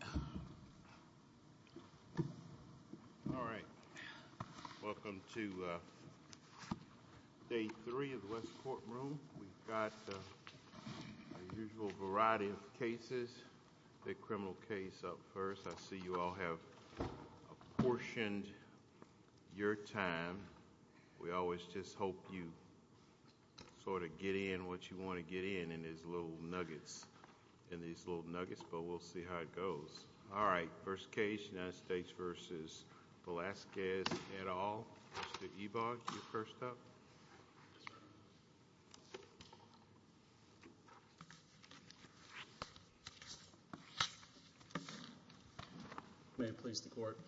All right, welcome to Day 3 of the West Courtroom. We've got a usual variety of cases. The criminal case up first. I see you all have apportioned your time. We always just hope you sort of get in what you want to get in, in these little nuggets, in these little nuggets, but we'll see how it goes. All right, first case, United States v. Velasquez et al. Mr. Ebaugh, you're first up. May it please the Court.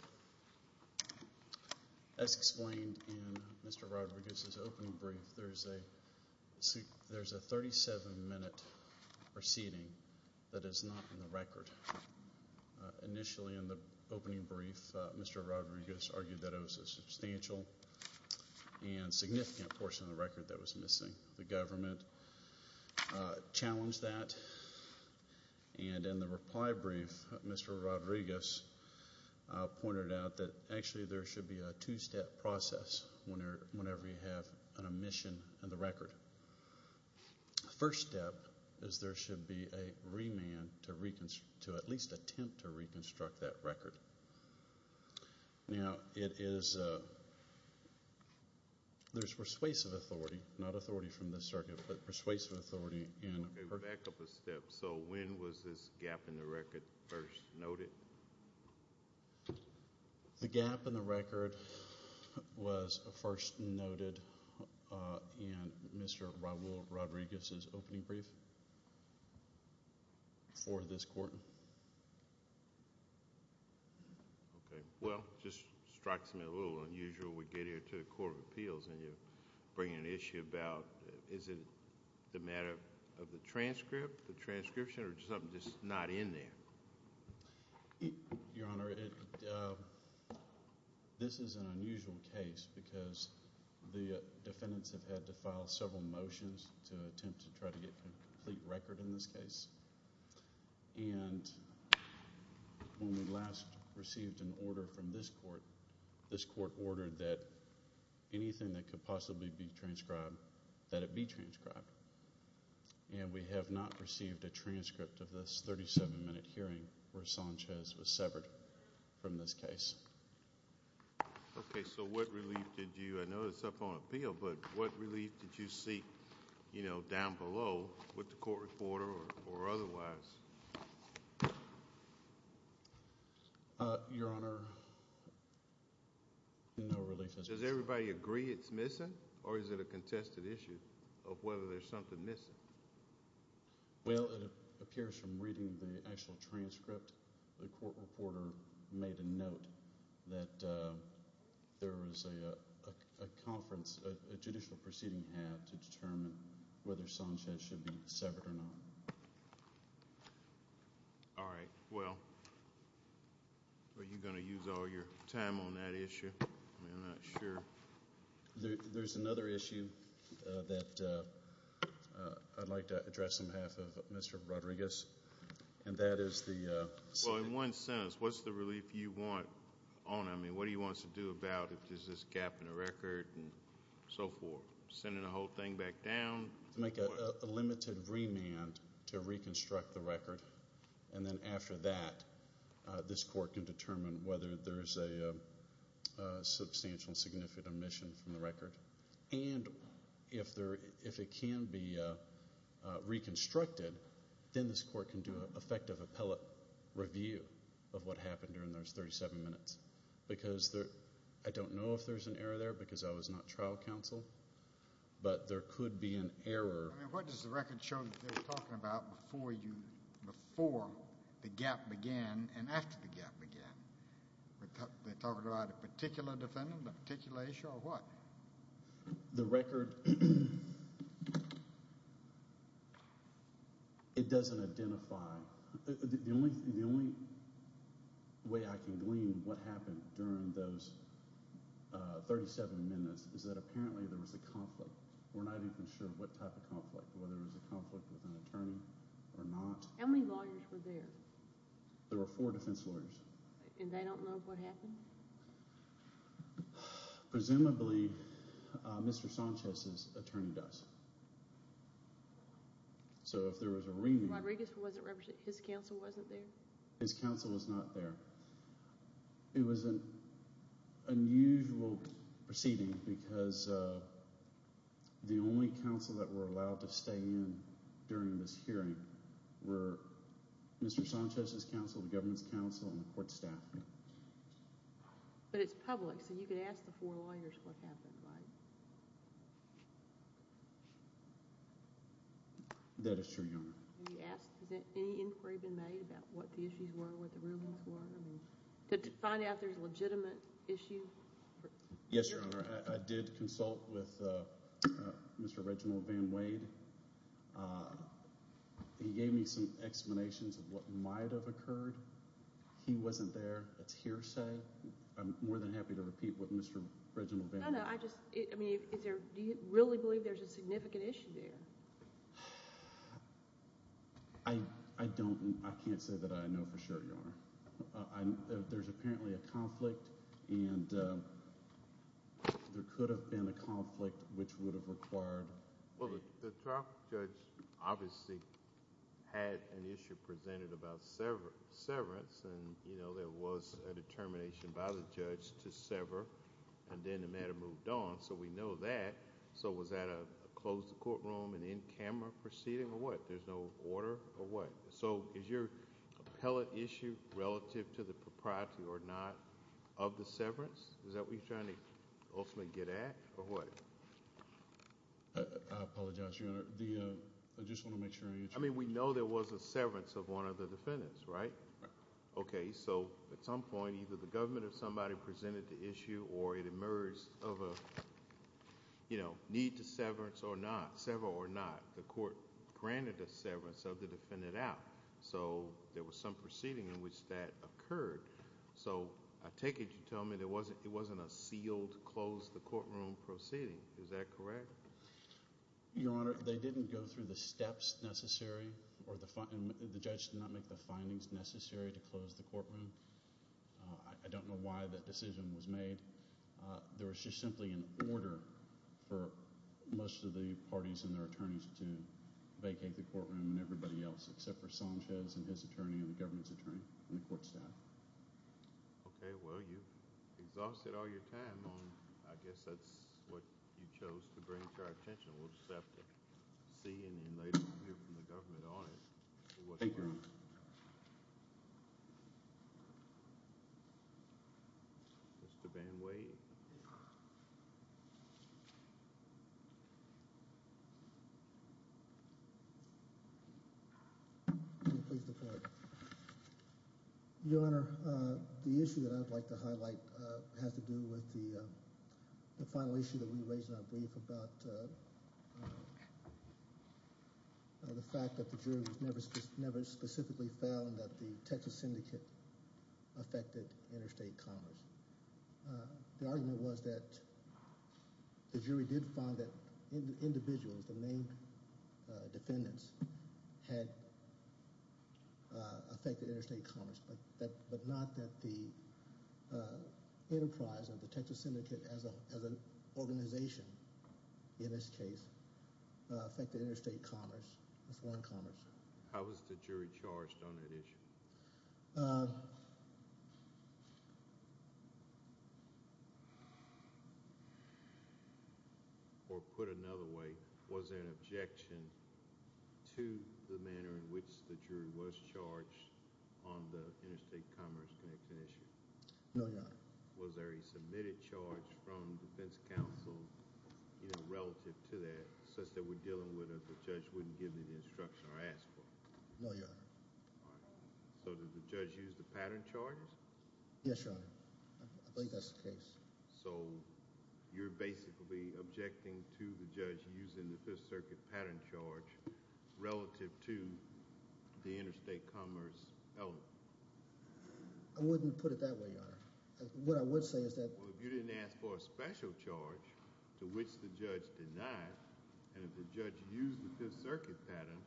As explained in Mr. Rodriguez's opening brief, there's a 37-minute proceeding that is not in the record. Initially in the opening brief, Mr. Rodriguez argued that it was a substantial and significant portion of the record that was missing. The government challenged that, and in the reply brief, Mr. Rodriguez pointed out that actually there should be a two-step process whenever you have an omission in the record. The first step is there should be a remand to at least attempt to reconstruct that record. Now, there's persuasive authority, not authority from the circuit, but persuasive authority. Okay, back up a step. So when was this gap in the record first noted? The gap in the record was first noted in Mr. Raul Rodriguez's opening brief for this court. Okay, well, just strikes me a little unusual. We get here to the Court of Appeals, and you're bringing an issue about, is it the matter of the transcript, the transcription, or something that's not in there? Your Honor, this is an unusual case because the defendants have had to file several motions to attempt to try to get a complete record in this case, and when we last received an order from this court, this court ordered that anything that could possibly be transcribed, that it be transcribed, and we have not received a transcript of this 37-minute hearing where Sanchez was severed from this case. Okay, so what relief did you, I know it's up on appeal, but what relief did you see, you know, down below with the court reporter or otherwise? Your Honor, no relief. Does everybody agree it's missing, or is it a contested issue of whether there's something missing? Well, it appears from reading the actual transcript, the court reporter made a note that there was a conference, a judicial proceeding had to determine whether Sanchez should be severed or not. All right, well, are you going to use all your time on that issue? I'm not sure. There's another issue that I'd like to address on behalf of Mr. Rodriguez, and that is the sentence. Well, in one sentence, what's the relief you want? I mean, what do you want us to do about this gap in the record and so forth? Send the whole thing back down? Make a limited remand to reconstruct the record, and then after that, this court can determine whether there's a substantial, significant omission from the record. And if it can be reconstructed, then this court can do an effective appellate review of what happened during those 37 minutes. Because I don't know if there's an error there, because I was not trial counsel, but there could be an error. I mean, what does the record show that they were talking about before the gap began and after the gap began? Were they talking about a particular defendant, a particular issue, or what? The record, it doesn't identify. The only way I can glean what happened during those 37 minutes is that apparently there was a conflict. We're not even sure what type of conflict, whether it was a conflict with an attorney or not. How many lawyers were there? There were four defense lawyers. And they don't know what happened? Presumably, Mr. Sanchez's attorney does. So if there was a remand... Rodriguez wasn't... his counsel wasn't there? His counsel was not there. It was an unusual proceeding because the only counsel that were allowed to stay in during this hearing were Mr. Sanchez's counsel, the government's counsel, and the court staff. But it's public, so you could ask the four lawyers what happened, right? That is true, Your Honor. Have you asked, has any inquiry been made about what the issues were, what the rumors were? Did you find out there's a legitimate issue? Yes, Your Honor. I did consult with Mr. Reginald Van Wade. He gave me some explanations of what might have occurred. He wasn't there. It's hearsay. I'm more than happy to repeat what Mr. Reginald Van Wade... No, no. Do you really believe there's a significant issue there? I can't say that I know for sure, Your Honor. There's apparently a conflict, and there could have been a conflict which would have required... Well, the trial judge obviously had an issue presented about severance, and there was a determination by the judge to sever, and then the matter moved on, so we know that. Was that a closed courtroom and in-camera proceeding, or what? There's no order, or what? Is your appellate issue relative to the propriety or not of the severance? Is that what you're trying to ultimately get at, or what? I apologize, Your Honor. I just want to make sure... We know there was a severance of one of the defendants, right? Right. Okay, so at some point, either the government or somebody presented the issue, or it emerged of a need to sever or not. The court granted a severance of the defendant out, so there was some proceeding in which that occurred. I take it you're telling me there wasn't a sealed, closed courtroom proceeding. Is that correct? Your Honor, they didn't go through the steps necessary, and the judge did not make the findings necessary to close the courtroom. I don't know why that decision was made. There was just simply an order for most of the parties and their attorneys to vacate the courtroom and everybody else, except for Sanchez and his attorney and the government's attorney and the court staff. Okay, well, you've exhausted all your time on... I guess that's what you chose to bring to our attention. We'll just have to see and then later hear from the government on it. Thank you, Your Honor. Mr. Van Wade. Your Honor, the issue that I would like to highlight has to do with the final issue that we raised in our brief about the fact that the jury was never specifically found that the Texas syndicate affected interstate commerce. The argument was that the jury did find that individuals, the main defendants, had affected interstate commerce, but not that the enterprise of the Texas syndicate as an organization, in this case, affected interstate commerce and foreign commerce. How was the jury charged on that issue? Or put another way, was there an objection to the manner in which the jury was charged on the interstate commerce connection issue? No, Your Honor. Was there a submitted charge from defense counsel relative to that, such that they were dealing with it, the judge wouldn't give any instruction or ask for it? No, Your Honor. All right. So did the judge use the pattern charges? Yes, Your Honor. I believe that's the case. So you're basically objecting to the judge using the Fifth Circuit pattern charge relative to the interstate commerce element? I wouldn't put it that way, Your Honor. What I would say is that... if the judge used the Fifth Circuit pattern,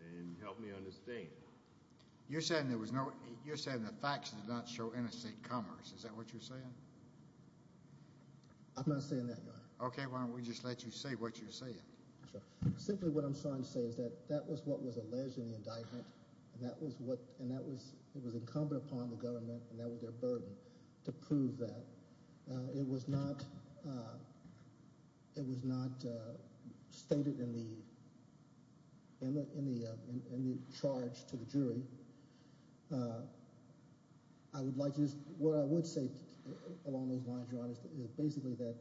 then help me understand. You're saying the facts did not show interstate commerce. Is that what you're saying? I'm not saying that, Your Honor. Okay. Why don't we just let you say what you're saying. Simply what I'm trying to say is that that was what was alleged in the indictment, and that was incumbent upon the government and their burden to prove that. It was not stated in the charge to the jury. I would like to just... what I would say along those lines, Your Honor, is basically that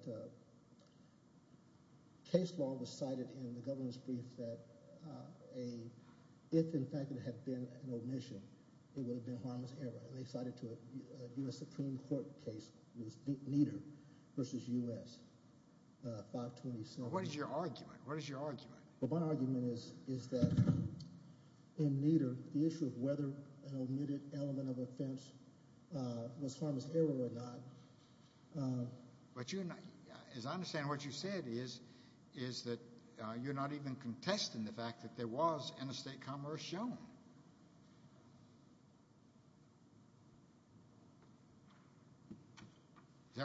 case law was cited in the government's brief that if, in fact, it had been an omission, it would have been harmless error. They cited a U.S. Supreme Court case. It was Nieder v. U.S. 527. What is your argument? What is your argument? My argument is that in Nieder, the issue of whether an omitted element of offense was harmless error or not... Is that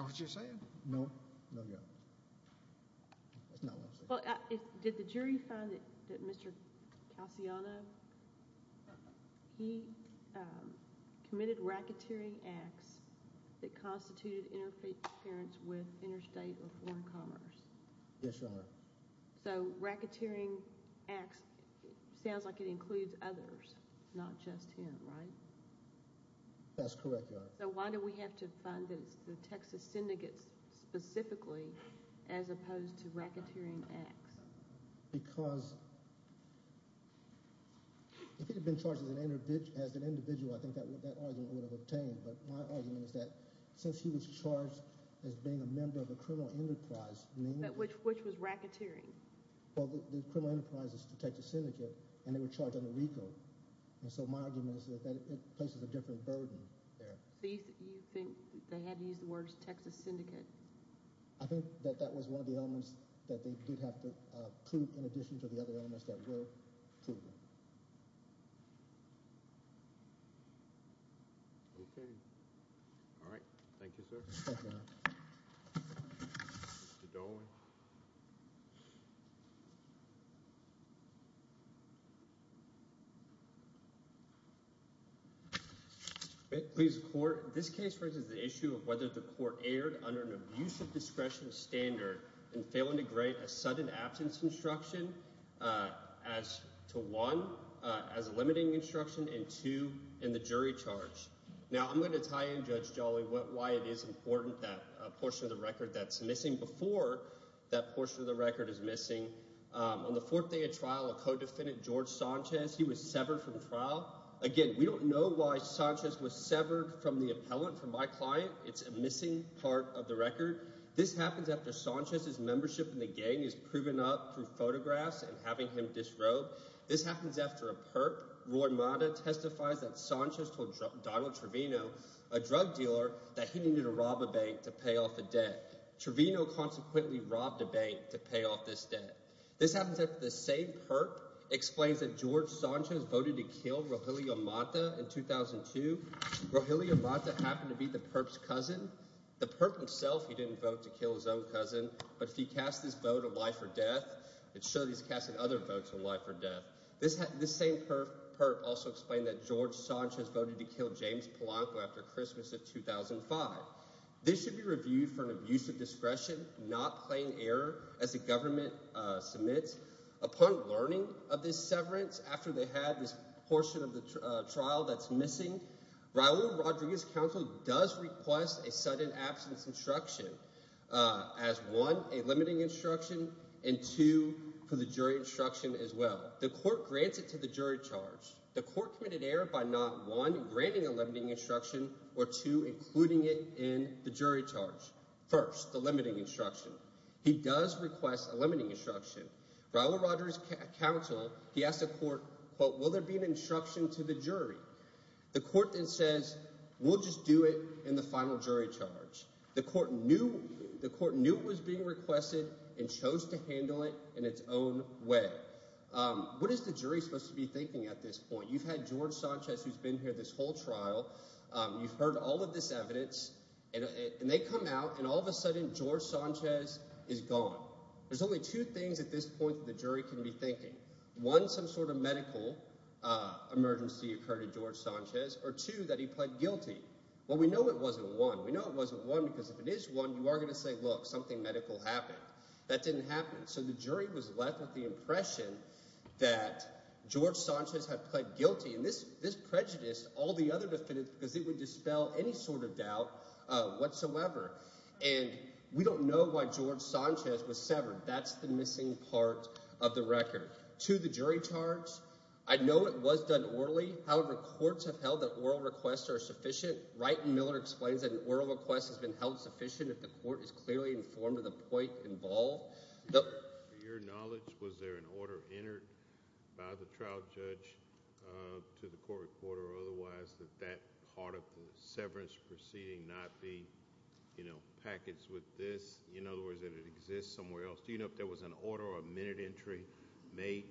what you're saying? No. No, Your Honor. That's not what I'm saying. Did the jury find that Mr. Calciano, he committed racketeering acts that constituted interference with interstate or foreign commerce? Yes, Your Honor. So racketeering acts sounds like it includes others, not just him, right? That's correct, Your Honor. So why do we have to find that it's the Texas syndicates specifically as opposed to racketeering acts? Because if he had been charged as an individual, I think that argument would have obtained, but my argument is that since he was charged as being a member of a criminal enterprise... But which was racketeering? Well, the criminal enterprise is the Texas syndicate, and they were charged under RICO, and so my argument is that it places a different burden there. Do you think they had to use the words Texas syndicate? I think that that was one of the elements that they did have to prove in addition to the other elements that were proven. Okay. All right. Thank you, sir. Thank you, Your Honor. Mr. Dolan. Please report. This case raises the issue of whether the court erred under an abusive discretion standard in failing to grade a sudden absence instruction as to one, as a limiting instruction, and two, in the jury charge. Now I'm going to tie in, Judge Jolly, why it is important that a portion of the record that's missing before that portion of the record is missing. On the fourth day of trial, a co-defendant, George Sanchez, he was severed from trial. Again, we don't know why Sanchez was severed from the appellant, from my client. It's a missing part of the record. This happens after Sanchez's membership in the gang is proven up through photographs and having him disrobed. This happens after a perp, Roy Mata, testifies that Sanchez told Donald Trevino, a drug dealer, that he needed to rob a bank to pay off the debt. Trevino consequently robbed a bank to pay off this debt. This happens after the same perp explains that George Sanchez voted to kill Rogelio Mata in 2002. Rogelio Mata happened to be the perp's cousin. The perp himself, he didn't vote to kill his own cousin. But if he casts this vote of life or death, it shows he's casting other votes of life or death. This same perp also explained that George Sanchez voted to kill James Polanco after Christmas of 2005. This should be reviewed for an abuse of discretion, not plain error, as the government submits. Upon learning of this severance after they had this portion of the trial that's missing, Raul Rodriguez's counsel does request a sudden absence instruction as one, a limiting instruction, and two, for the jury instruction as well. The court grants it to the jury charge. The court committed error by not, one, granting a limiting instruction, or two, including it in the jury charge. First, the limiting instruction. He does request a limiting instruction. Raul Rodriguez's counsel, he asked the court, but will there be an instruction to the jury? The court then says, we'll just do it in the final jury charge. The court knew it was being requested and chose to handle it in its own way. What is the jury supposed to be thinking at this point? You've had George Sanchez who's been here this whole trial. You've heard all of this evidence, and they come out, and all of a sudden George Sanchez is gone. There's only two things at this point that the jury can be thinking. One, some sort of medical emergency occurred to George Sanchez, or two, that he pled guilty. Well, we know it wasn't one. We know it wasn't one because if it is one, you are going to say, look, something medical happened. That didn't happen, so the jury was left with the impression that George Sanchez had pled guilty. And this prejudiced all the other defendants because it would dispel any sort of doubt whatsoever. And we don't know why George Sanchez was severed. That's the missing part of the record. To the jury charge, I know it was done orally. However, courts have held that oral requests are sufficient. Wright and Miller explains that an oral request has been held sufficient if the court is clearly informed of the point involved. To your knowledge, was there an order entered by the trial judge to the court recorder or otherwise that that part of the severance proceeding not be packaged with this? In other words, that it exists somewhere else. Do you know if there was an order or a minute entry made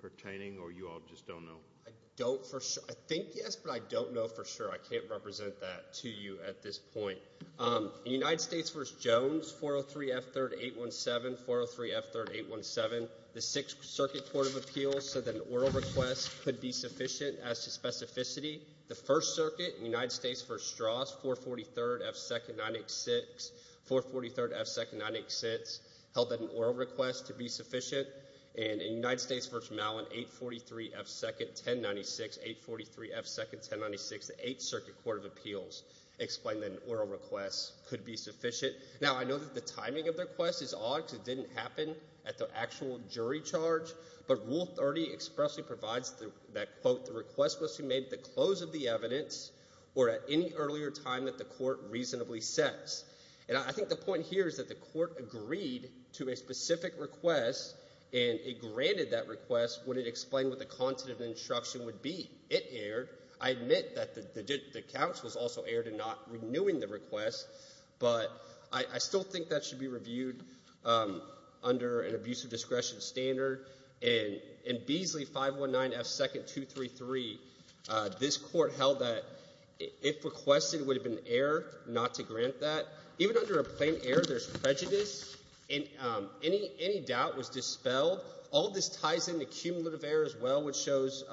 pertaining, or you all just don't know? I don't for sure. I think yes, but I don't know for sure. I can't represent that to you at this point. In United States v. Jones, 403F3817, 403F3817, the Sixth Circuit Court of Appeals said that an oral request could be sufficient as to specificity. The First Circuit in United States v. Strauss, 443F2-986, 443F2-986 held that an oral request to be sufficient. And in United States v. Mallin, 843F2-1096, 843F2-1096, the Eighth Circuit Court of Appeals explained that an oral request could be sufficient. Now, I know that the timing of the request is odd because it didn't happen at the actual jury charge. But Rule 30 expressly provides that, quote, the request must be made at the close of the evidence or at any earlier time that the court reasonably says. And I think the point here is that the court agreed to a specific request, and it granted that request when it explained what the content of the instruction would be. It erred. I admit that the counsels also erred in not renewing the request, but I still think that should be reviewed under an abusive discretion standard. In Beasley 519F2233, this court held that if requested, it would have been an error not to grant that. Even under a plain error, there's prejudice, and any doubt was dispelled. All of this ties into cumulative error as well, which shows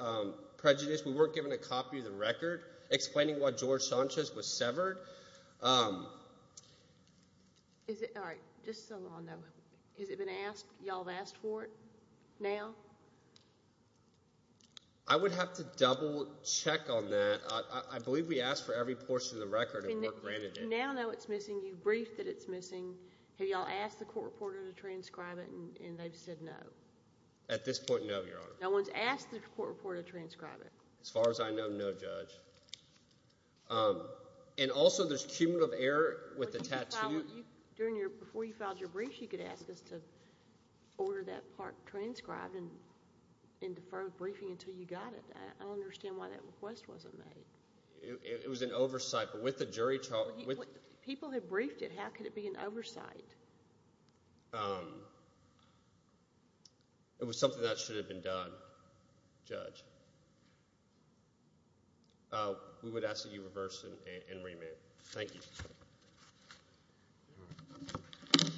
prejudice. We weren't given a copy of the record explaining why George Sanchez was severed. All right, just so y'all know, has it been asked? Y'all have asked for it now? I would have to double check on that. I believe we asked for every portion of the record and the court granted it. You now know it's missing. You've briefed that it's missing. Have y'all asked the court reporter to transcribe it, and they've said no? At this point, no, Your Honor. No one's asked the court reporter to transcribe it? As far as I know, no, Judge. And also there's cumulative error with the tattoo. Before you filed your brief, you could ask us to order that part transcribed and defer briefing until you got it. I don't understand why that request wasn't made. It was an oversight, but with the jury trial— People have briefed it. How could it be an oversight? It was something that should have been done, Judge. We would ask that you reverse and remit. Thank you. All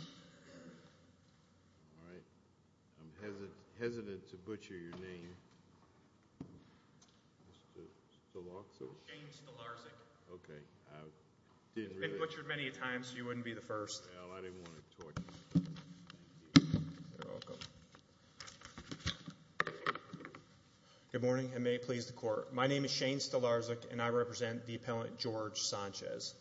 right. I'm hesitant to butcher your name. Mr. Stelarczyk? James Stelarczyk. Okay. I didn't really— I didn't want to torture you. Thank you. You're welcome. Good morning, and may it please the court. My name is Shane Stelarczyk, and I represent the appellant George Sanchez.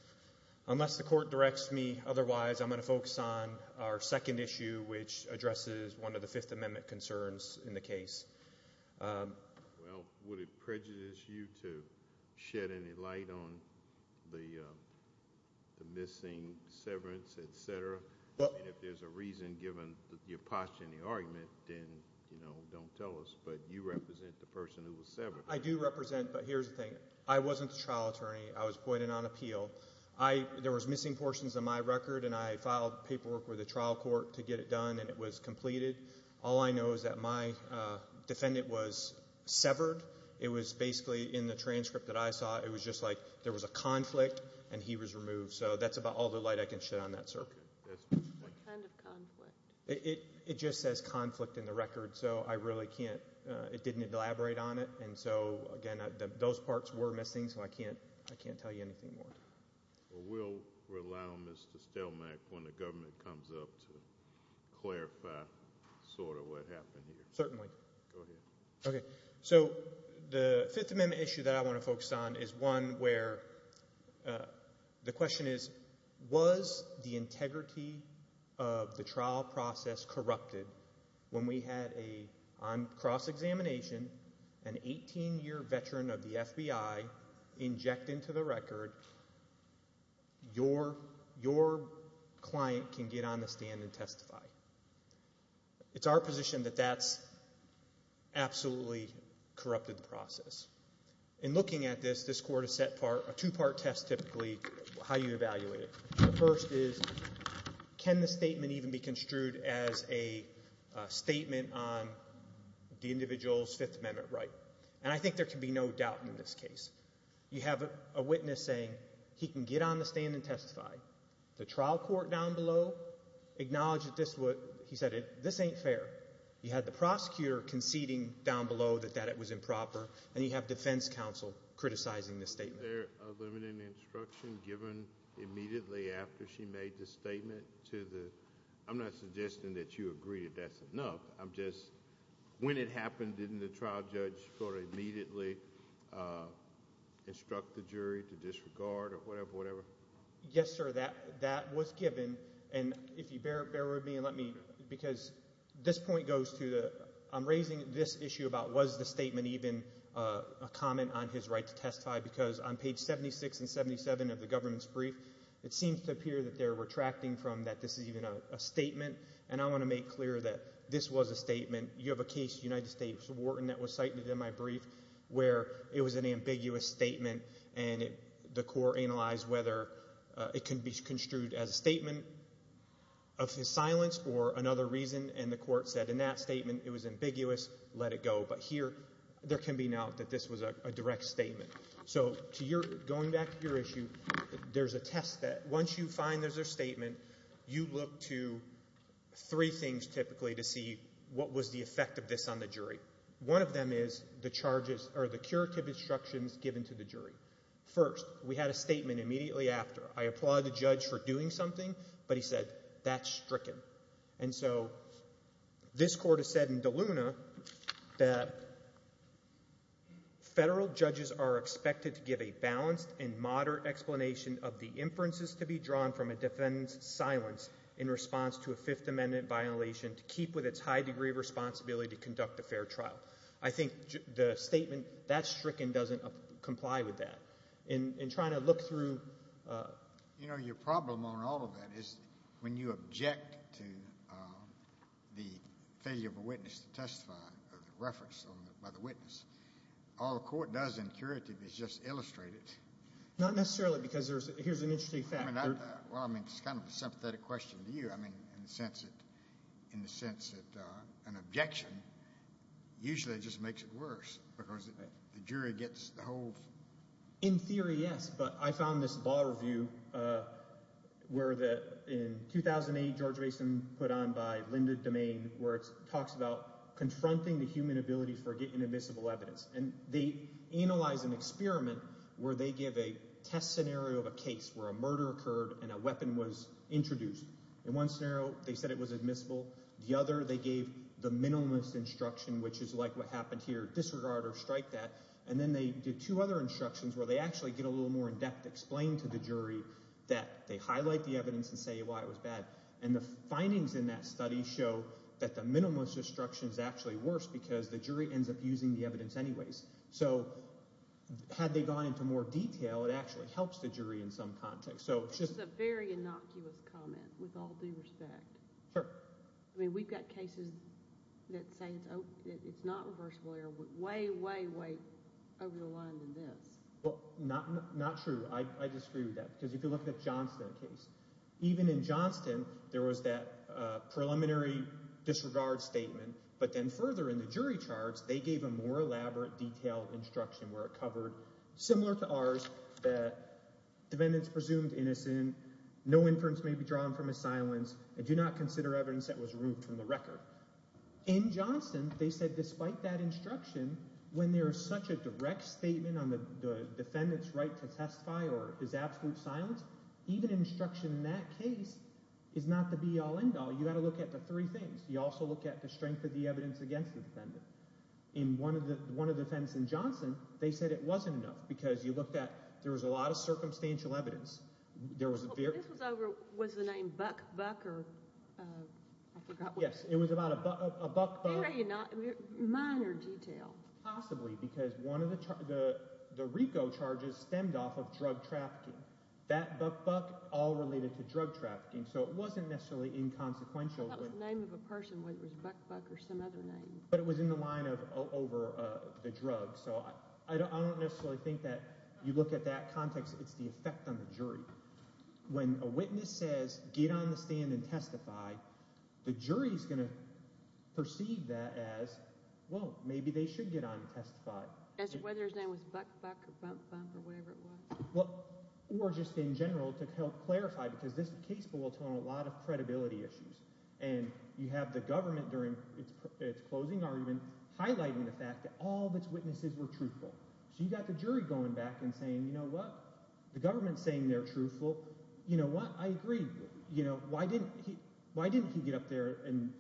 Unless the court directs me otherwise, I'm going to focus on our second issue, which addresses one of the Fifth Amendment concerns in the case. Well, would it prejudice you to shed any light on the missing severance, et cetera? If there's a reason given your posture in the argument, then don't tell us, but you represent the person who was severed. I do represent, but here's the thing. I wasn't the trial attorney. I was appointed on appeal. There was missing portions of my record, and I filed paperwork with the trial court to get it done, and it was completed. All I know is that my defendant was severed. It was basically in the transcript that I saw. It was just like there was a conflict, and he was removed, so that's about all the light I can shed on that, sir. What kind of conflict? It just says conflict in the record, so I really can't—it didn't elaborate on it, and so, again, those parts were missing, so I can't tell you anything more. We'll rely on Mr. Stelmack when the government comes up to clarify sort of what happened here. Certainly. Go ahead. Okay, so the Fifth Amendment issue that I want to focus on is one where the question is, was the integrity of the trial process corrupted when we had a—on cross-examination, an 18-year veteran of the FBI inject into the record, your client can get on the stand and testify. It's our position that that's absolutely corrupted the process. In looking at this, this court has set a two-part test, typically, how you evaluate it. The first is, can the statement even be construed as a statement on the individual's Fifth Amendment right? And I think there can be no doubt in this case. You have a witness saying he can get on the stand and testify. The trial court down below acknowledged that this was—he said this ain't fair. You had the prosecutor conceding down below that that was improper, and you have defense counsel criticizing this statement. Was there a limited instruction given immediately after she made the statement to the—I'm not suggesting that you agree that that's enough. I'm just—when it happened, didn't the trial judge sort of immediately instruct the jury to disregard or whatever, whatever? Yes, sir. That was given, and if you bear with me and let me—because this point goes to the—I'm raising this issue about was the statement even a comment on his right to testify because on page 76 and 77 of the government's brief, it seems to appear that they're retracting from that this is even a statement, and I want to make clear that this was a statement. You have a case, United States, Wharton, that was cited in my brief where it was an ambiguous statement, and the court analyzed whether it can be construed as a statement of his silence or another reason, and the court said in that statement it was ambiguous, let it go. But here there can be no doubt that this was a direct statement. So to your—going back to your issue, there's a test that once you find there's a statement, you look to three things typically to see what was the effect of this on the jury. One of them is the charges or the curative instructions given to the jury. First, we had a statement immediately after. I applaud the judge for doing something, but he said that's stricken. And so this court has said in DeLuna that federal judges are expected to give a balanced and moderate explanation of the inferences to be drawn from a defendant's silence in response to a Fifth Amendment violation to keep with its high degree of responsibility to conduct a fair trial. I think the statement that's stricken doesn't comply with that. In trying to look through— You know, your problem on all of that is when you object to the failure of a witness to testify, the reference by the witness, all the court does in curative is just illustrate it. Not necessarily because there's—here's an interesting fact. Well, I mean, it's kind of a sympathetic question to you. I mean, in the sense that—in the sense that an objection usually just makes it worse because the jury gets the whole— where the—in 2008, George Mason put on by Linda DeMaine where it talks about confronting the human ability for getting admissible evidence. And they analyzed an experiment where they give a test scenario of a case where a murder occurred and a weapon was introduced. In one scenario, they said it was admissible. The other, they gave the minimalist instruction, which is like what happened here, disregard or strike that. And then they did two other instructions where they actually get a little more in-depth explained to the jury that they highlight the evidence and say why it was bad. And the findings in that study show that the minimalist instruction is actually worse because the jury ends up using the evidence anyways. So had they gone into more detail, it actually helps the jury in some context. So it's just— This is a very innocuous comment with all due respect. Sure. I mean we've got cases that say it's not reversible error way, way, way over the line than this. Well, not true. I disagree with that because if you look at the Johnston case, even in Johnston, there was that preliminary disregard statement. But then further in the jury charts, they gave a more elaborate, detailed instruction where it covered, similar to ours, that defendants presumed innocent. No inference may be drawn from his silence, and do not consider evidence that was removed from the record. In Johnston, they said despite that instruction, when there is such a direct statement on the defendant's right to testify or his absolute silence, even instruction in that case is not the be-all, end-all. You've got to look at the three things. You also look at the strength of the evidence against the defendant. In one of the defendants in Johnston, they said it wasn't enough because you looked at—there was a lot of circumstantial evidence. This was over—was the name Buck-Buck or—I forgot what it was. Yes, it was about a Buck-Buck. No, you're not—minor detail. Possibly because one of the RICO charges stemmed off of drug trafficking. That Buck-Buck all related to drug trafficking, so it wasn't necessarily inconsequential. I thought it was the name of a person, whether it was Buck-Buck or some other name. But it was in the line of over the drug. So I don't necessarily think that you look at that context. It's the effect on the jury. When a witness says, get on the stand and testify, the jury is going to perceive that as, well, maybe they should get on and testify. Whether his name was Buck-Buck or Bump-Bump or whatever it was. Or just in general to help clarify because this case boiled down to a lot of credibility issues. And you have the government during its closing argument highlighting the fact that all of its witnesses were truthful. So you've got the jury going back and saying, you know what, the government is saying they're truthful. You know what, I agree. Why didn't he get up there and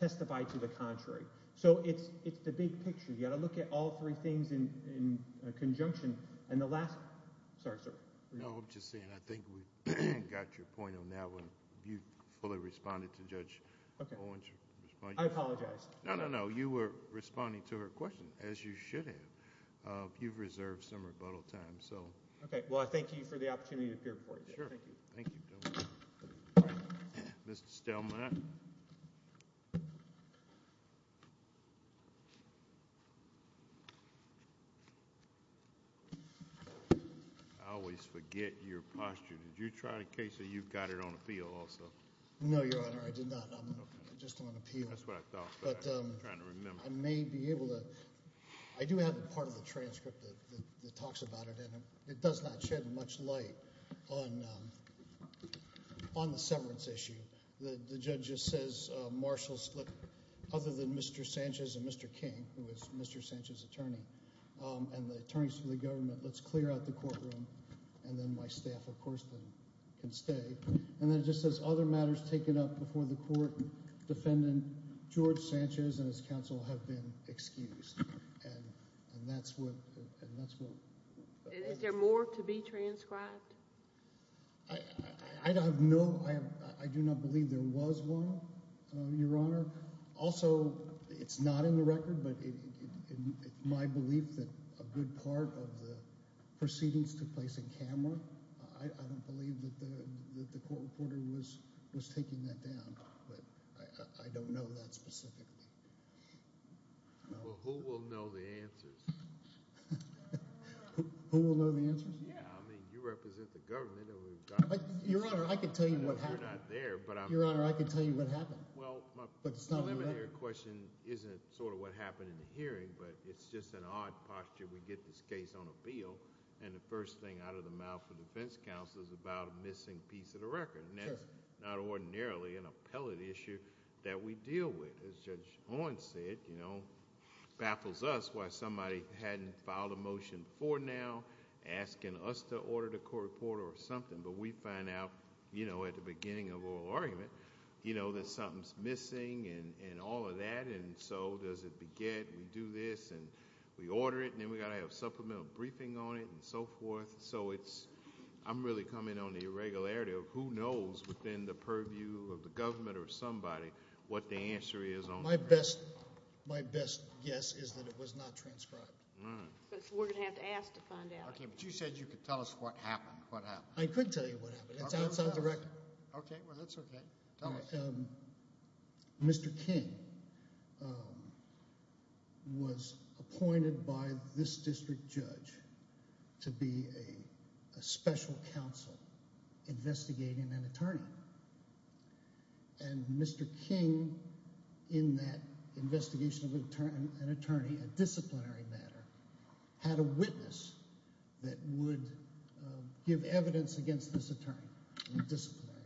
testify to the contrary? So it's the big picture. You've got to look at all three things in conjunction. And the last—sorry, sir. No, I'm just saying I think we've got your point on that one. You fully responded to Judge Owen's response. I apologize. No, no, no. You were responding to her question, as you should have. You've reserved some rebuttal time. Okay. Well, I thank you for the opportunity to appear before you. Sure. Thank you. Mr. Stelman. I always forget your posture. Did you try it in case you've got it on appeal also? No, Your Honor, I did not. I'm just on appeal. That's what I thought. I'm trying to remember. I may be able to—I do have a part of the transcript that talks about it, and it does not shed much light on the severance issue. The judge just says, other than Mr. Sanchez and Mr. King, who is Mr. Sanchez's attorney, and the attorneys for the government, let's clear out the courtroom, and then my staff, of course, can stay. And then it just says, other matters taken up before the court, defendant George Sanchez and his counsel have been excused. And that's what... Is there more to be transcribed? I have no—I do not believe there was one, Your Honor. Also, it's not in the record, but it's my belief that a good part of the proceedings took place in camera. I don't believe that the court reporter was taking that down, but I don't know that specifically. Well, who will know the answers? Who will know the answers? I mean, you represent the government. Your Honor, I can tell you what happened. You're not there, but I'm— Your Honor, I can tell you what happened, but it's not in the record. Well, my preliminary question isn't sort of what happened in the hearing, but it's just an odd posture. We get this case on appeal, and the first thing out of the mouth of the defense counsel is about a missing piece of the record. And that's not ordinarily an appellate issue that we deal with. As Judge Owen said, baffles us why somebody hadn't filed a motion before now asking us to order the court reporter or something, but we find out at the beginning of oral argument that something's missing and all of that, and so does it beget. We do this, and we order it, and then we've got to have a supplemental briefing on it and so forth. I'm really coming on the irregularity of who knows within the purview of the government or somebody what the answer is on the record. My best guess is that it was not transcribed. We're going to have to ask to find out. Okay, but you said you could tell us what happened. What happened? I could tell you what happened. It's outside the record. Okay. Well, that's okay. Tell us. Mr. King was appointed by this district judge to be a special counsel investigating an attorney, and Mr. King, in that investigation of an attorney, a disciplinary matter, had a witness that would give evidence against this attorney in a disciplinary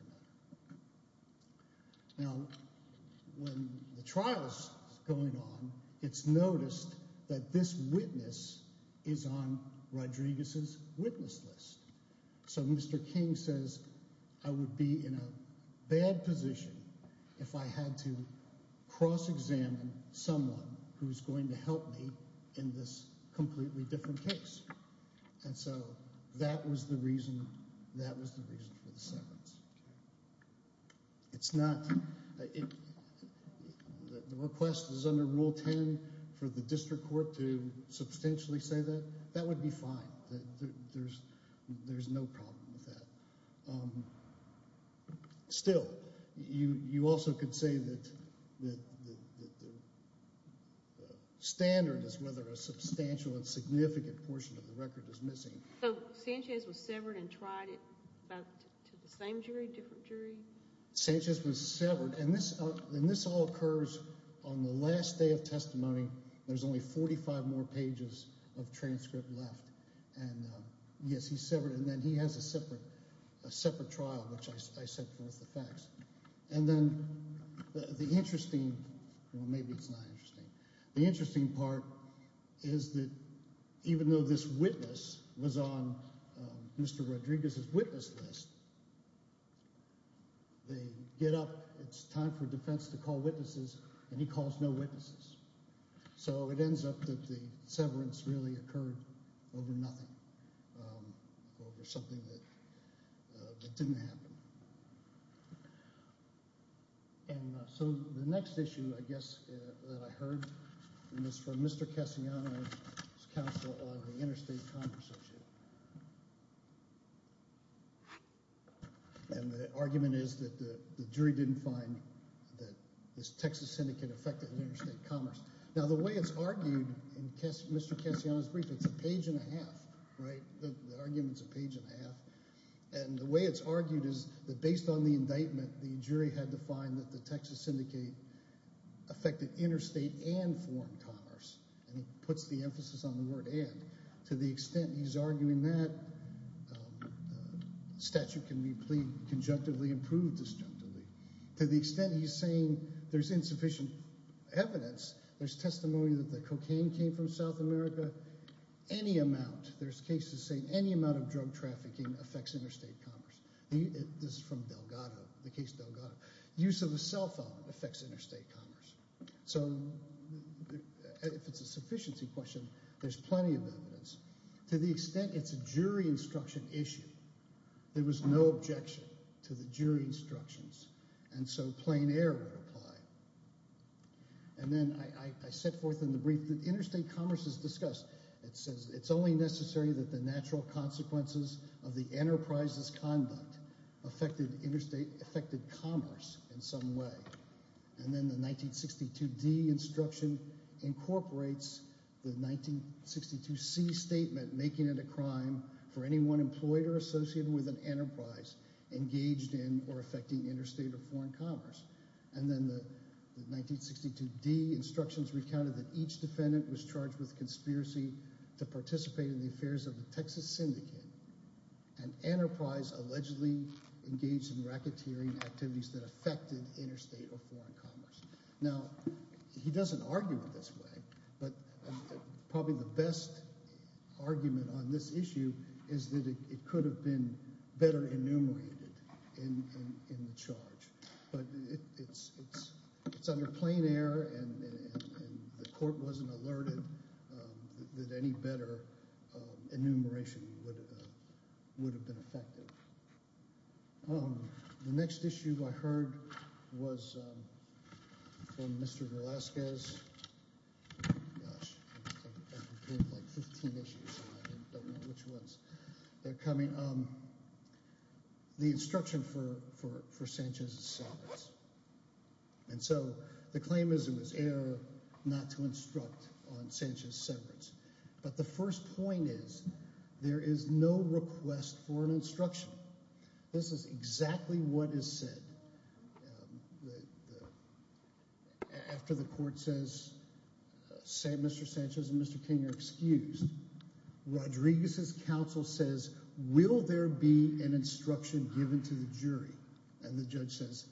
matter. Now, when the trial is going on, it's noticed that this witness is on Rodriguez's witness list, so Mr. King says I would be in a bad position if I had to cross-examine someone who is going to help me in this completely different case, and so that was the reason for the sentence. The request is under Rule 10 for the district court to substantially say that. That would be fine. There's no problem with that. Still, you also could say that the standard is whether a substantial and significant portion of the record is missing. So Sanchez was severed and tried it to the same jury, different jury? Sanchez was severed, and this all occurs on the last day of testimony. There's only 45 more pages of transcript left. And, yes, he's severed, and then he has a separate trial, which I sent forth the facts. And then the interesting—well, maybe it's not interesting. The interesting part is that even though this witness was on Mr. Rodriguez's witness list, they get up. It's time for defense to call witnesses, and he calls no witnesses. So it ends up that the severance really occurred over nothing, over something that didn't happen. And so the next issue, I guess, that I heard, and it's from Mr. Cassiano and his counsel on the interstate converse issue. And the argument is that the jury didn't find that this Texas syndicate affected interstate commerce. Now, the way it's argued in Mr. Cassiano's brief, it's a page and a half, right? The argument's a page and a half. And the way it's argued is that based on the indictment, the jury had to find that the Texas syndicate affected interstate and foreign commerce. And he puts the emphasis on the word and. To the extent he's arguing that, the statute can be plead—conjunctively improved disjunctively. To the extent he's saying there's insufficient evidence, there's testimony that the cocaine came from South America, any amount— there's cases saying any amount of drug trafficking affects interstate commerce. This is from Delgado, the case Delgado. Use of a cell phone affects interstate commerce. So if it's a sufficiency question, there's plenty of evidence. To the extent it's a jury instruction issue, there was no objection to the jury instructions. And so plain error would apply. And then I set forth in the brief that interstate commerce is discussed. It says it's only necessary that the natural consequences of the enterprise's conduct affected commerce in some way. And then the 1962D instruction incorporates the 1962C statement, making it a crime for anyone employed or associated with an enterprise engaged in or affecting interstate or foreign commerce. And then the 1962D instructions recounted that each defendant was charged with conspiracy to participate in the affairs of the Texas syndicate. An enterprise allegedly engaged in racketeering activities that affected interstate or foreign commerce. Now, he doesn't argue it this way, but probably the best argument on this issue is that it could have been better enumerated in the charge. But it's under plain error, and the court wasn't alerted that any better enumeration would have been effective. The next issue I heard was from Mr. Velasquez. Gosh, I have like 15 issues, and I don't know which ones they're coming. The instruction for Sanchez's severance. And so the claim is it was error not to instruct on Sanchez's severance. But the first point is there is no request for an instruction. This is exactly what is said after the court says Mr. Sanchez and Mr. King are excused. Rodriguez's counsel says, will there be an instruction given to the jury? And the judge says,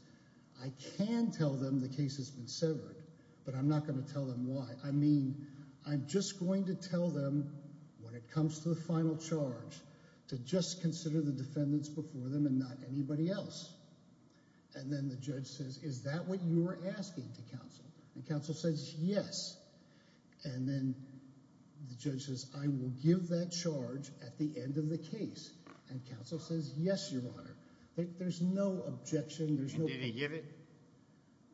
I can tell them the case has been severed, but I'm not going to tell them why. I mean, I'm just going to tell them when it comes to the final charge to just consider the defendants before them and not anybody else. And then the judge says, is that what you were asking to counsel? And counsel says, yes. And then the judge says, I will give that charge at the end of the case. And counsel says, yes, Your Honor. There's no objection. And did he give it?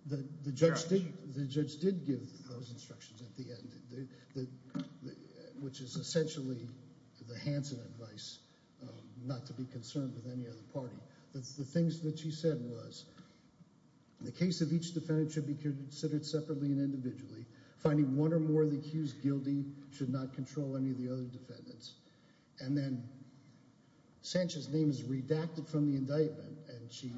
The judge did give those instructions at the end, which is essentially the Hansen advice not to be concerned with any other party. The things that she said was the case of each defendant should be considered separately and individually. Finding one or more of the accused guilty should not control any of the other defendants. And then Sanchez's name is redacted from the indictment. And she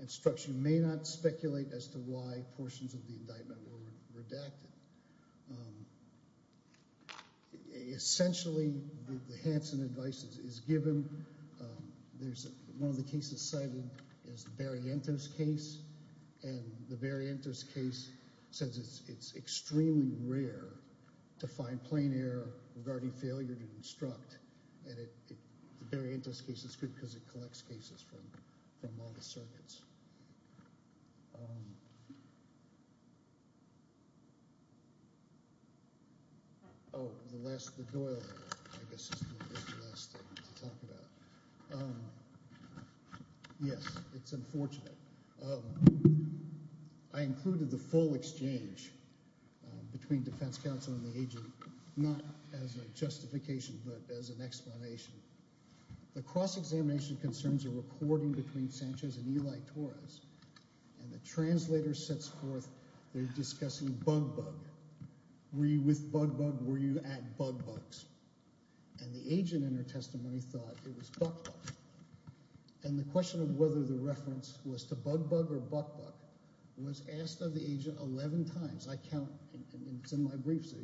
instructs you may not speculate as to why portions of the indictment were redacted. Essentially, the Hansen advice is given. One of the cases cited is the Barrientos case. And the Barrientos case says it's extremely rare to find plain error regarding failure to instruct. And the Barrientos case is good because it collects cases from all the circuits. Oh, the Doyle, I guess, is the last thing to talk about. Yes, it's unfortunate. I included the full exchange between defense counsel and the agent not as a justification but as an explanation. The cross-examination concerns a recording between Sanchez and Eli Torres. And the translator sets forth they're discussing bug bug. Were you with bug bug? Were you at bug bugs? And the agent in her testimony thought it was bug bug. And the question of whether the reference was to bug bug or bug bug was asked of the agent 11 times. I count, and it's in my briefs,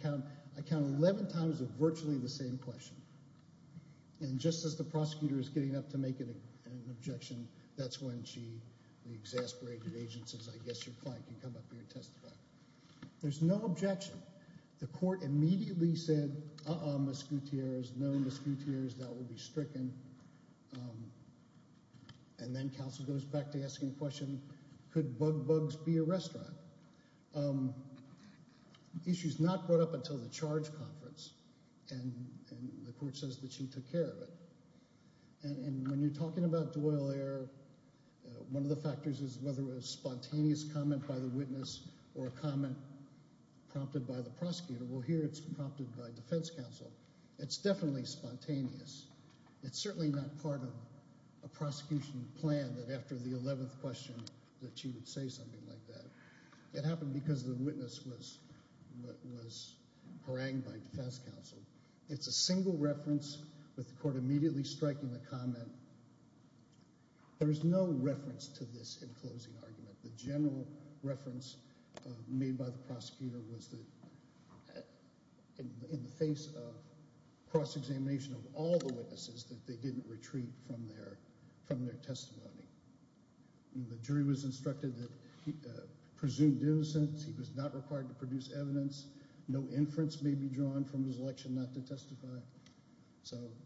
I count 11 times of virtually the same question. And just as the prosecutor is getting up to make an objection, that's when she, the exasperated agent, says, I guess your client can come up here and testify. There's no objection. The court immediately said, uh-uh, Ms. Gutierrez, no, Ms. Gutierrez, that will be stricken. And then counsel goes back to asking the question, could bug bugs be a restaurant? The issue is not brought up until the charge conference, and the court says that she took care of it. And when you're talking about Doyle error, one of the factors is whether it was a spontaneous comment by the witness or a comment prompted by the prosecutor. Well, here it's prompted by defense counsel. It's definitely spontaneous. It's certainly not part of a prosecution plan that after the 11th question that she would say something like that. It happened because the witness was harangued by defense counsel. It's a single reference with the court immediately striking the comment. There is no reference to this in closing argument. The general reference made by the prosecutor was that in the face of cross-examination of all the witnesses, that they didn't retreat from their testimony. The jury was instructed that he presumed innocence. He was not required to produce evidence. So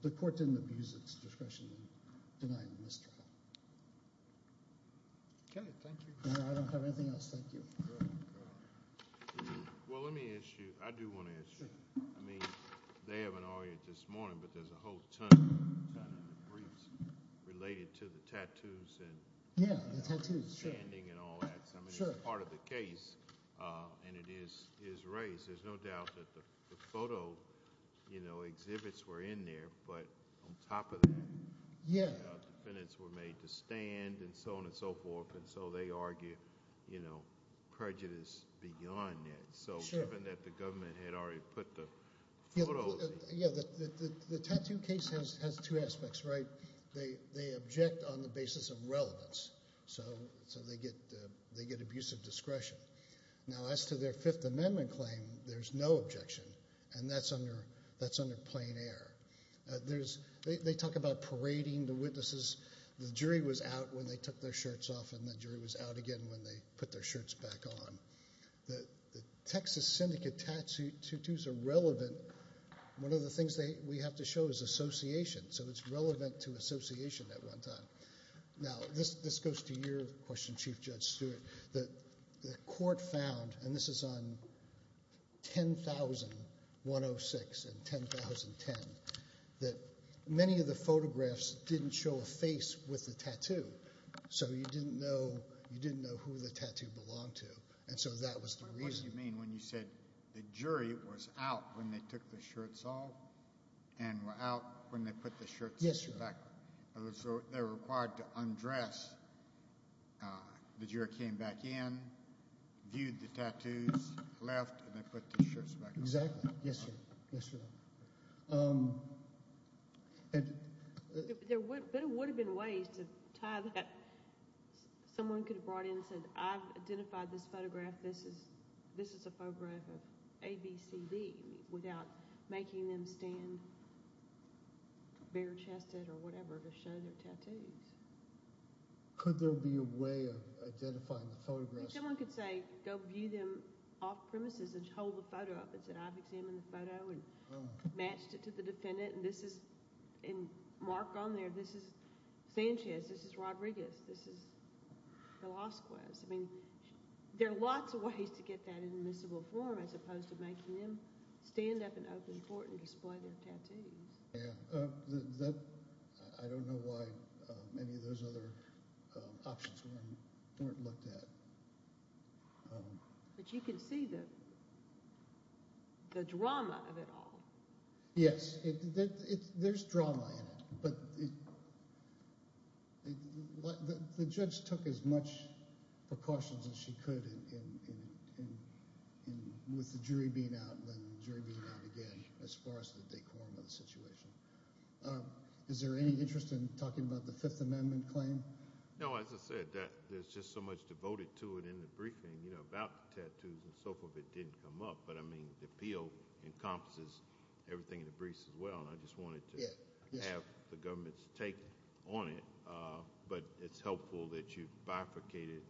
the court didn't abuse its discretion in denying this trial. Okay, thank you. I don't have anything else. Thank you. Well, let me ask you. I do want to ask you. I mean, they have an audience this morning, but there's a whole ton of briefs related to the tattoos and standing and all that. I mean, it's part of the case, and it is raised. There's no doubt that the photo exhibits were in there, but on top of that, the defendants were made to stand and so on and so forth, and so they argue prejudice beyond that. Sure. So given that the government had already put the photos. Yeah, the tattoo case has two aspects, right? They object on the basis of relevance, so they get abusive discretion. Now, as to their Fifth Amendment claim, there's no objection, and that's under plain air. They talk about parading the witnesses. The jury was out when they took their shirts off, and the jury was out again when they put their shirts back on. The Texas syndicate tattoos are relevant. One of the things we have to show is association, so it's relevant to association at one time. Now, this goes to your question, Chief Judge Stewart. The court found, and this is on 10106 and 10010, that many of the photographs didn't show a face with the tattoo, so you didn't know who the tattoo belonged to, and so that was the reason. What do you mean when you said the jury was out when they took their shirts off and were out when they put their shirts back on? Yes, Your Honor. So they were required to undress. The jury came back in, viewed the tattoos, left, and they put the shirts back on. Exactly. Yes, Your Honor. There would have been ways to tie that. Someone could have brought in and said, I've identified this photograph. This is a photograph of ABCD without making them stand bare-chested or whatever to show their tattoos. Could there be a way of identifying the photographs? Someone could say, go view them off-premises and hold the photo up and say, I've examined the photo and matched it to the defendant, and mark on there, this is Sanchez, this is Rodriguez, this is Velasquez. There are lots of ways to get that in admissible form as opposed to making them stand up in open court and display their tattoos. I don't know why many of those other options weren't looked at. But you can see the drama of it all. Yes, there's drama in it. The judge took as much precautions as she could with the jury being out and the jury being out again as far as the decorum of the situation. Is there any interest in talking about the Fifth Amendment claim? No, as I said, there's just so much devoted to it in the briefing about the tattoos and so forth that didn't come up. But the appeal encompasses everything in the briefs as well. I just wanted to have the government's take on it. But it's helpful that you've bifurcated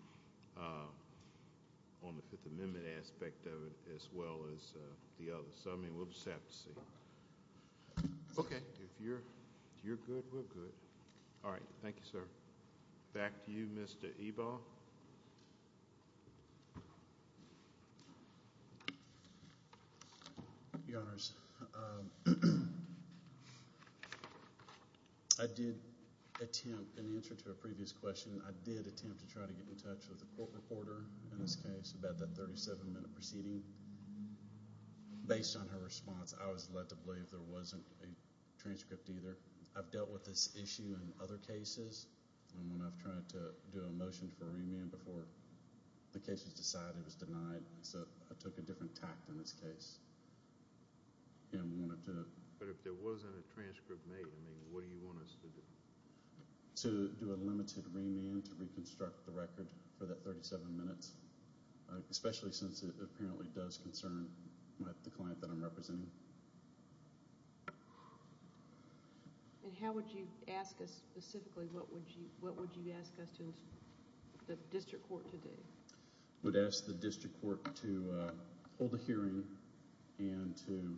on the Fifth Amendment aspect of it as well as the others. We'll just have to see. Okay. If you're good, we're good. All right. Thank you, sir. Back to you, Mr. Ebaugh. Your Honors, I did attempt in answer to a previous question, I did attempt to try to get in touch with a court reporter in this case about that 37-minute proceeding. Based on her response, I was led to believe there wasn't a transcript either. I've dealt with this issue in other cases. And when I've tried to do a motion for remand before the case was decided, it was denied. So I took a different tact in this case. But if there wasn't a transcript made, I mean, what do you want us to do? To do a limited remand to reconstruct the record for that 37 minutes, especially since it apparently does concern the client that I'm representing? And how would you ask us specifically? What would you ask us to the district court to do? I would ask the district court to hold a hearing and to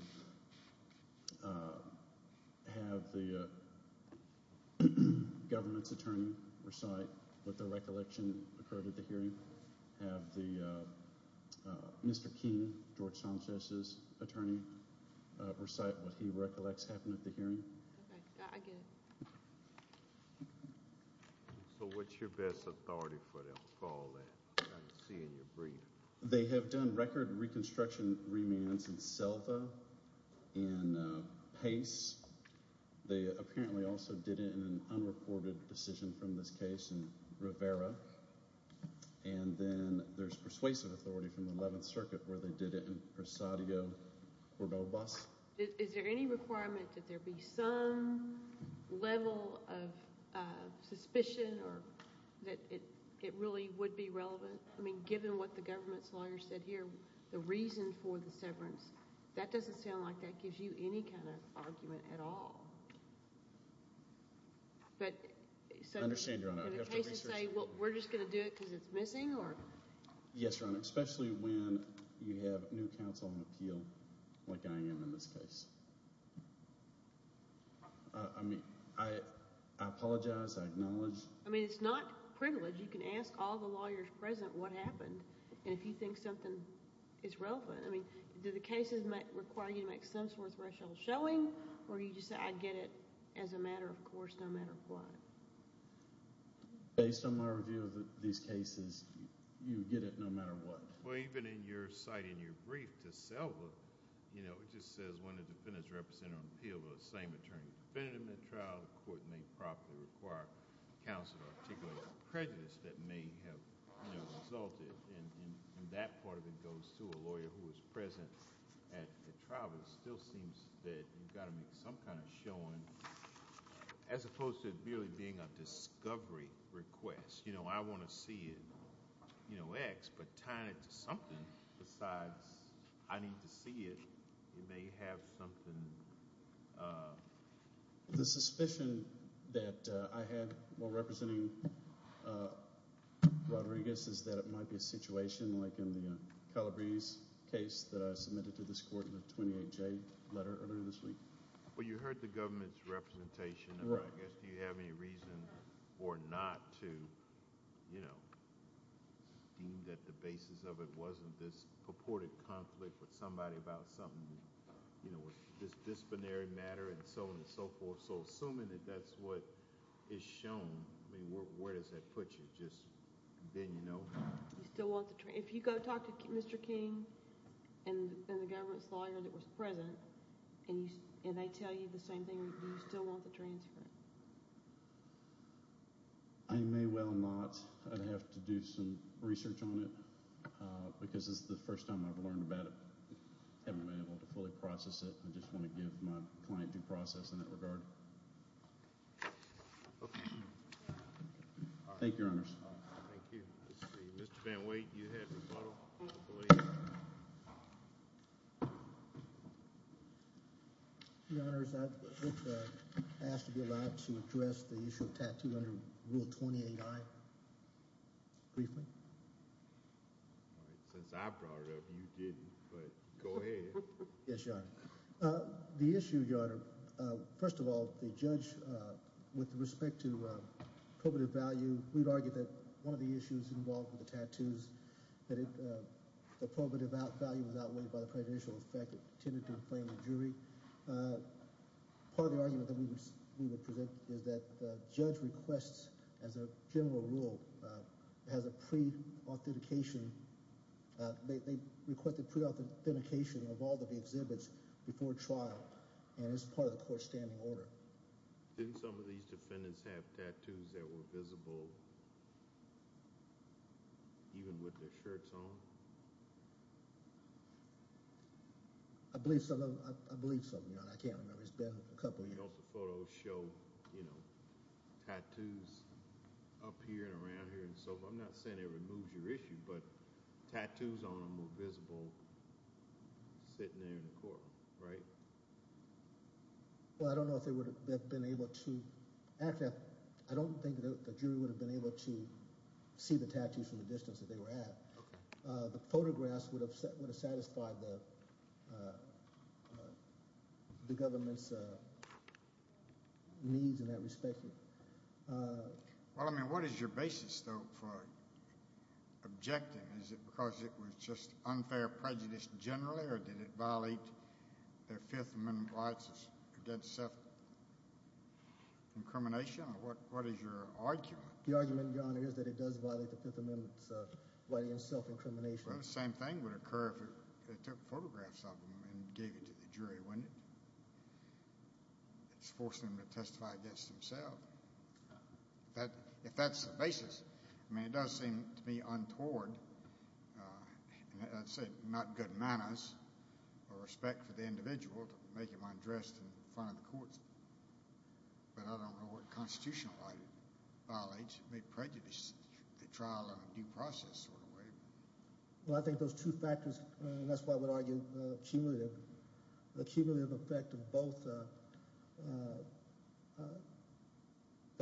have the government's attorney recite what the recollection occurred at the hearing. Have Mr. King, George Sanchez's attorney, recite what he recollects happened at the hearing. Okay. I get it. So what's your best authority for them to call that? I can see in your breathing. They have done record reconstruction remands in Selva, in Pace. They apparently also did it in an unreported decision from this case in Rivera. And then there's persuasive authority from the 11th Circuit where they did it in Presadio, Cordobas. Is there any requirement that there be some level of suspicion or that it really would be relevant? I mean, given what the government's lawyer said here, the reason for the severance, that doesn't sound like that gives you any kind of argument at all. I understand, Your Honor. And it takes to say, well, we're just going to do it because it's missing? Yes, Your Honor, especially when you have new counsel on appeal like I am in this case. I mean, I apologize. I acknowledge. I mean, it's not privilege. You can ask all the lawyers present what happened and if you think something is relevant. I mean, do the cases require you to make some sort of threshold showing or do you just say, I get it as a matter of course, no matter what? Based on my review of these cases, you get it no matter what. Well, even in your cite in your brief to Selva, you know, it just says, when a defendant is represented on appeal to the same attorney defendant in the trial, the court may properly require counsel to articulate a prejudice that may have resulted. And that part of it goes to a lawyer who is present at the trial. It still seems that you've got to make some kind of showing, as opposed to it really being a discovery request. You know, I want to see it, you know, X, but tying it to something besides, I need to see it, it may have something... The suspicion that I had while representing Rodriguez is that it might be a situation, like in the Calabrese case that I submitted to this court in the 28J letter earlier this week. Well, you heard the government's representation. Right. I guess you have any reason or not to, you know, that the basis of it wasn't this purported conflict with somebody about something, you know, this disciplinary matter and so on and so forth. So assuming that that's what is shown, I mean, where does that put you? If you go talk to Mr. King and the government's lawyer that was present and they tell you the same thing, do you still want the transfer? I may well not. I'd have to do some research on it because this is the first time I've learned about it. I haven't been able to fully process it. I just want to give my client due process in that regard. Okay. Thank you, Your Honors. Thank you. Let's see. Mr. Van Wake, you had a rebuttal, I believe. Your Honors, I was asked to be allowed to address the issue of Tattoo under Rule 28I briefly. Since I brought it up, you didn't, but go ahead. Yes, Your Honor. The issue, Your Honor, first of all, the judge, with respect to probative value, we've argued that one of the issues involved with the tattoos, that the probative value was outweighed by the prejudicial effect. It tended to inflame the jury. Part of the argument that we would present is that the judge requests, as a general rule, has a pre-authentication. They requested pre-authentication of all of the exhibits before trial, and it's part of the court's standing order. Didn't some of these defendants have tattoos that were visible, even with their shirts on? I believe so. I believe so, Your Honor. I can't remember. It's been a couple of years. Don't the photos show tattoos up here and around here and so forth? I'm not saying it removes your issue, but tattoos on them were visible sitting there in the courtroom, right? Well, I don't know if they would have been able to. Actually, I don't think the jury would have been able to see the tattoos from the distance that they were at. The photographs would have satisfied the government's needs in that respect. Well, I mean, what is your basis, though, for objecting? Is it because it was just unfair prejudice generally, or did it violate their Fifth Amendment rights against self-incrimination? What is your argument? The argument, Your Honor, is that it does violate the Fifth Amendment rights against self-incrimination. Well, the same thing would occur if they took photographs of them and gave it to the jury, wouldn't it? It's forcing them to testify against themselves. If that's the basis, I mean, it does seem to me untoward, and I'd say not good manners or respect for the individual to make him undressed in front of the courts. But I don't know what constitutional right it violates. It may prejudice the trial in a due process sort of way. Well, I think those two factors, and that's why I would argue the cumulative effect of both the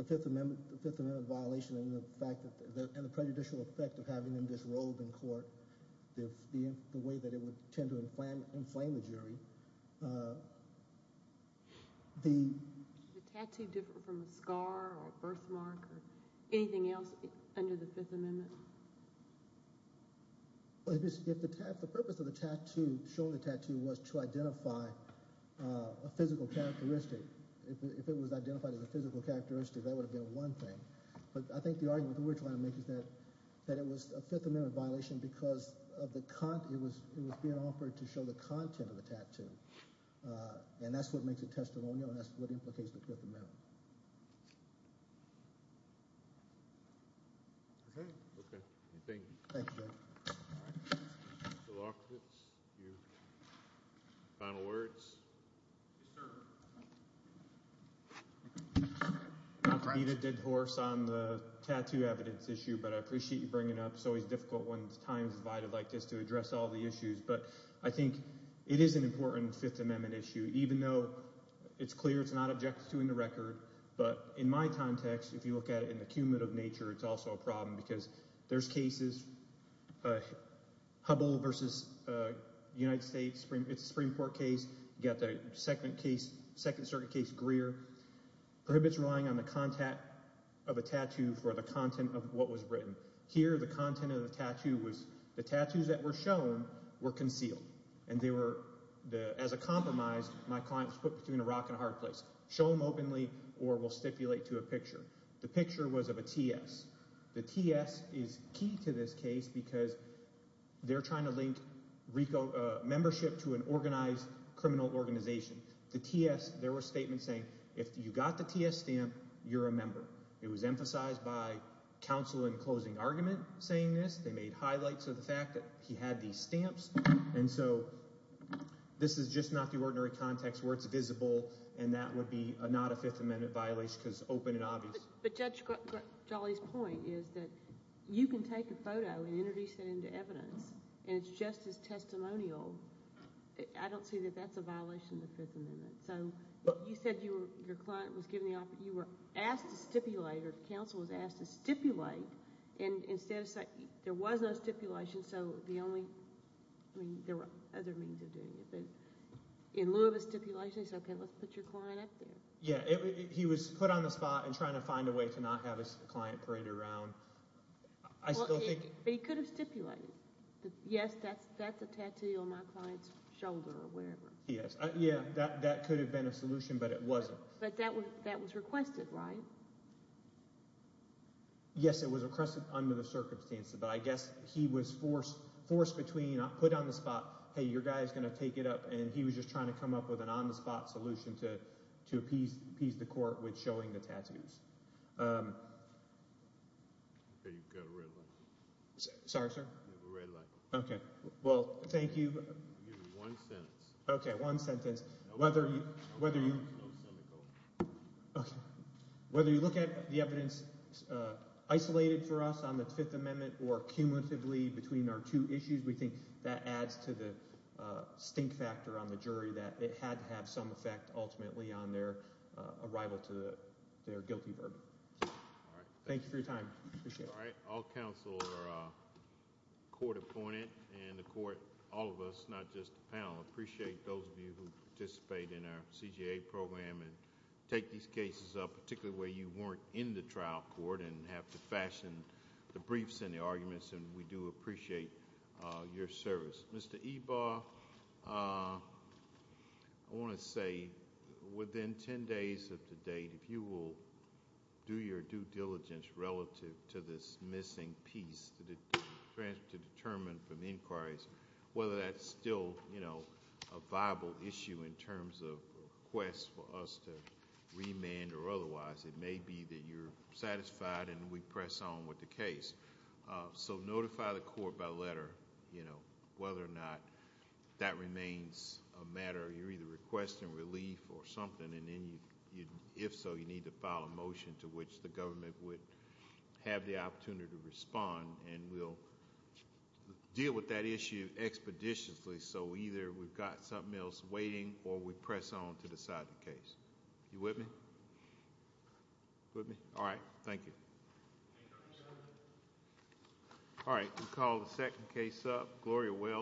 Fifth Amendment violation and the prejudicial effect of having them disrobed in court, the way that it would tend to inflame the jury. Is the tattoo different from a scar or a birthmark or anything else under the Fifth Amendment? The purpose of the tattoo, showing the tattoo, was to identify a physical characteristic. If it was identified as a physical characteristic, that would have been one thing. But I think the argument that we're trying to make is that it was a Fifth Amendment violation because it was being offered to show the content of the tattoo, and that's what makes it testimonial and that's what implicates the Fifth Amendment. All right. Okay. Thank you. Thank you. All right. Mr. Lockwood, your final words? Yes, sir. Not to beat a dead horse on the tattoo evidence issue, but I appreciate you bringing it up. It's always difficult when time is divided like this to address all the issues. But I think it is an important Fifth Amendment issue, even though it's clear it's not objected to in the record. But in my context, if you look at it in the cumulative nature, it's also a problem because there's cases, Hubbell v. United States Supreme Court case, you've got the Second Circuit case Greer, prohibits relying on the content of a tattoo for the content of what was written. Here the content of the tattoo was the tattoos that were shown were concealed, and they were, as a compromise, my client was put between a rock and a hard place. Show them openly or we'll stipulate to a picture. The picture was of a T.S. The T.S. is key to this case because they're trying to link membership to an organized criminal organization. The T.S., there were statements saying if you got the T.S. stamp, you're a member. It was emphasized by counsel in closing argument saying this. They made highlights of the fact that he had these stamps. And so this is just not the ordinary context where it's visible, and that would be not a Fifth Amendment violation because it's open and obvious. But Judge Jolly's point is that you can take a photo and introduce it into evidence, and it's just as testimonial. I don't see that that's a violation of the Fifth Amendment. So you said your client was given the offer. You were asked to stipulate or counsel was asked to stipulate, and instead of saying there was no stipulation, so the only—I mean there were other means of doing it. But in lieu of a stipulation, he said, okay, let's put your client up there. Yeah, he was put on the spot and trying to find a way to not have his client parade around. I still think— But he could have stipulated. Yes, that's a tattoo on my client's shoulder or whatever. Yes, yeah, that could have been a solution, but it wasn't. But that was requested, right? Yes, it was requested under the circumstances. But I guess he was forced between put on the spot, hey, your guy is going to take it up, and he was just trying to come up with an on-the-spot solution to appease the court with showing the tattoos. Okay, you've got a red light. Sorry, sir? You have a red light. Okay. Well, thank you. You have one sentence. Okay, one sentence. No, no, no. Whether you— No, send it over. Okay. Whether you look at the evidence isolated for us on the Fifth Amendment or cumulatively between our two issues, we think that adds to the stink factor on the jury that it had to have some effect ultimately on their arrival to their guilty verdict. All right. Thank you for your time. Appreciate it. All right. All counsel are court-appointed in the court, all of us, not just the panel. Appreciate those of you who participate in our CJA program and take these cases up, particularly where you weren't in the trial court and have to fashion the briefs and the arguments, and we do appreciate your service. Mr. Ebar, I want to say within ten days of the date, if you will do your due diligence relative to this missing piece to determine from inquiries whether that's still a viable issue in terms of requests for us to remand or otherwise, it may be that you're satisfied and we press on with the case. So notify the court by letter whether or not that remains a matter. You're either requesting relief or something, and if so, you need to file a motion into which the government would have the opportunity to respond, and we'll deal with that issue expeditiously so either we've got something else waiting or we press on to decide the case. You with me? With me? All right. Thank you. All right. We'll call the second case up. Gloria Wells.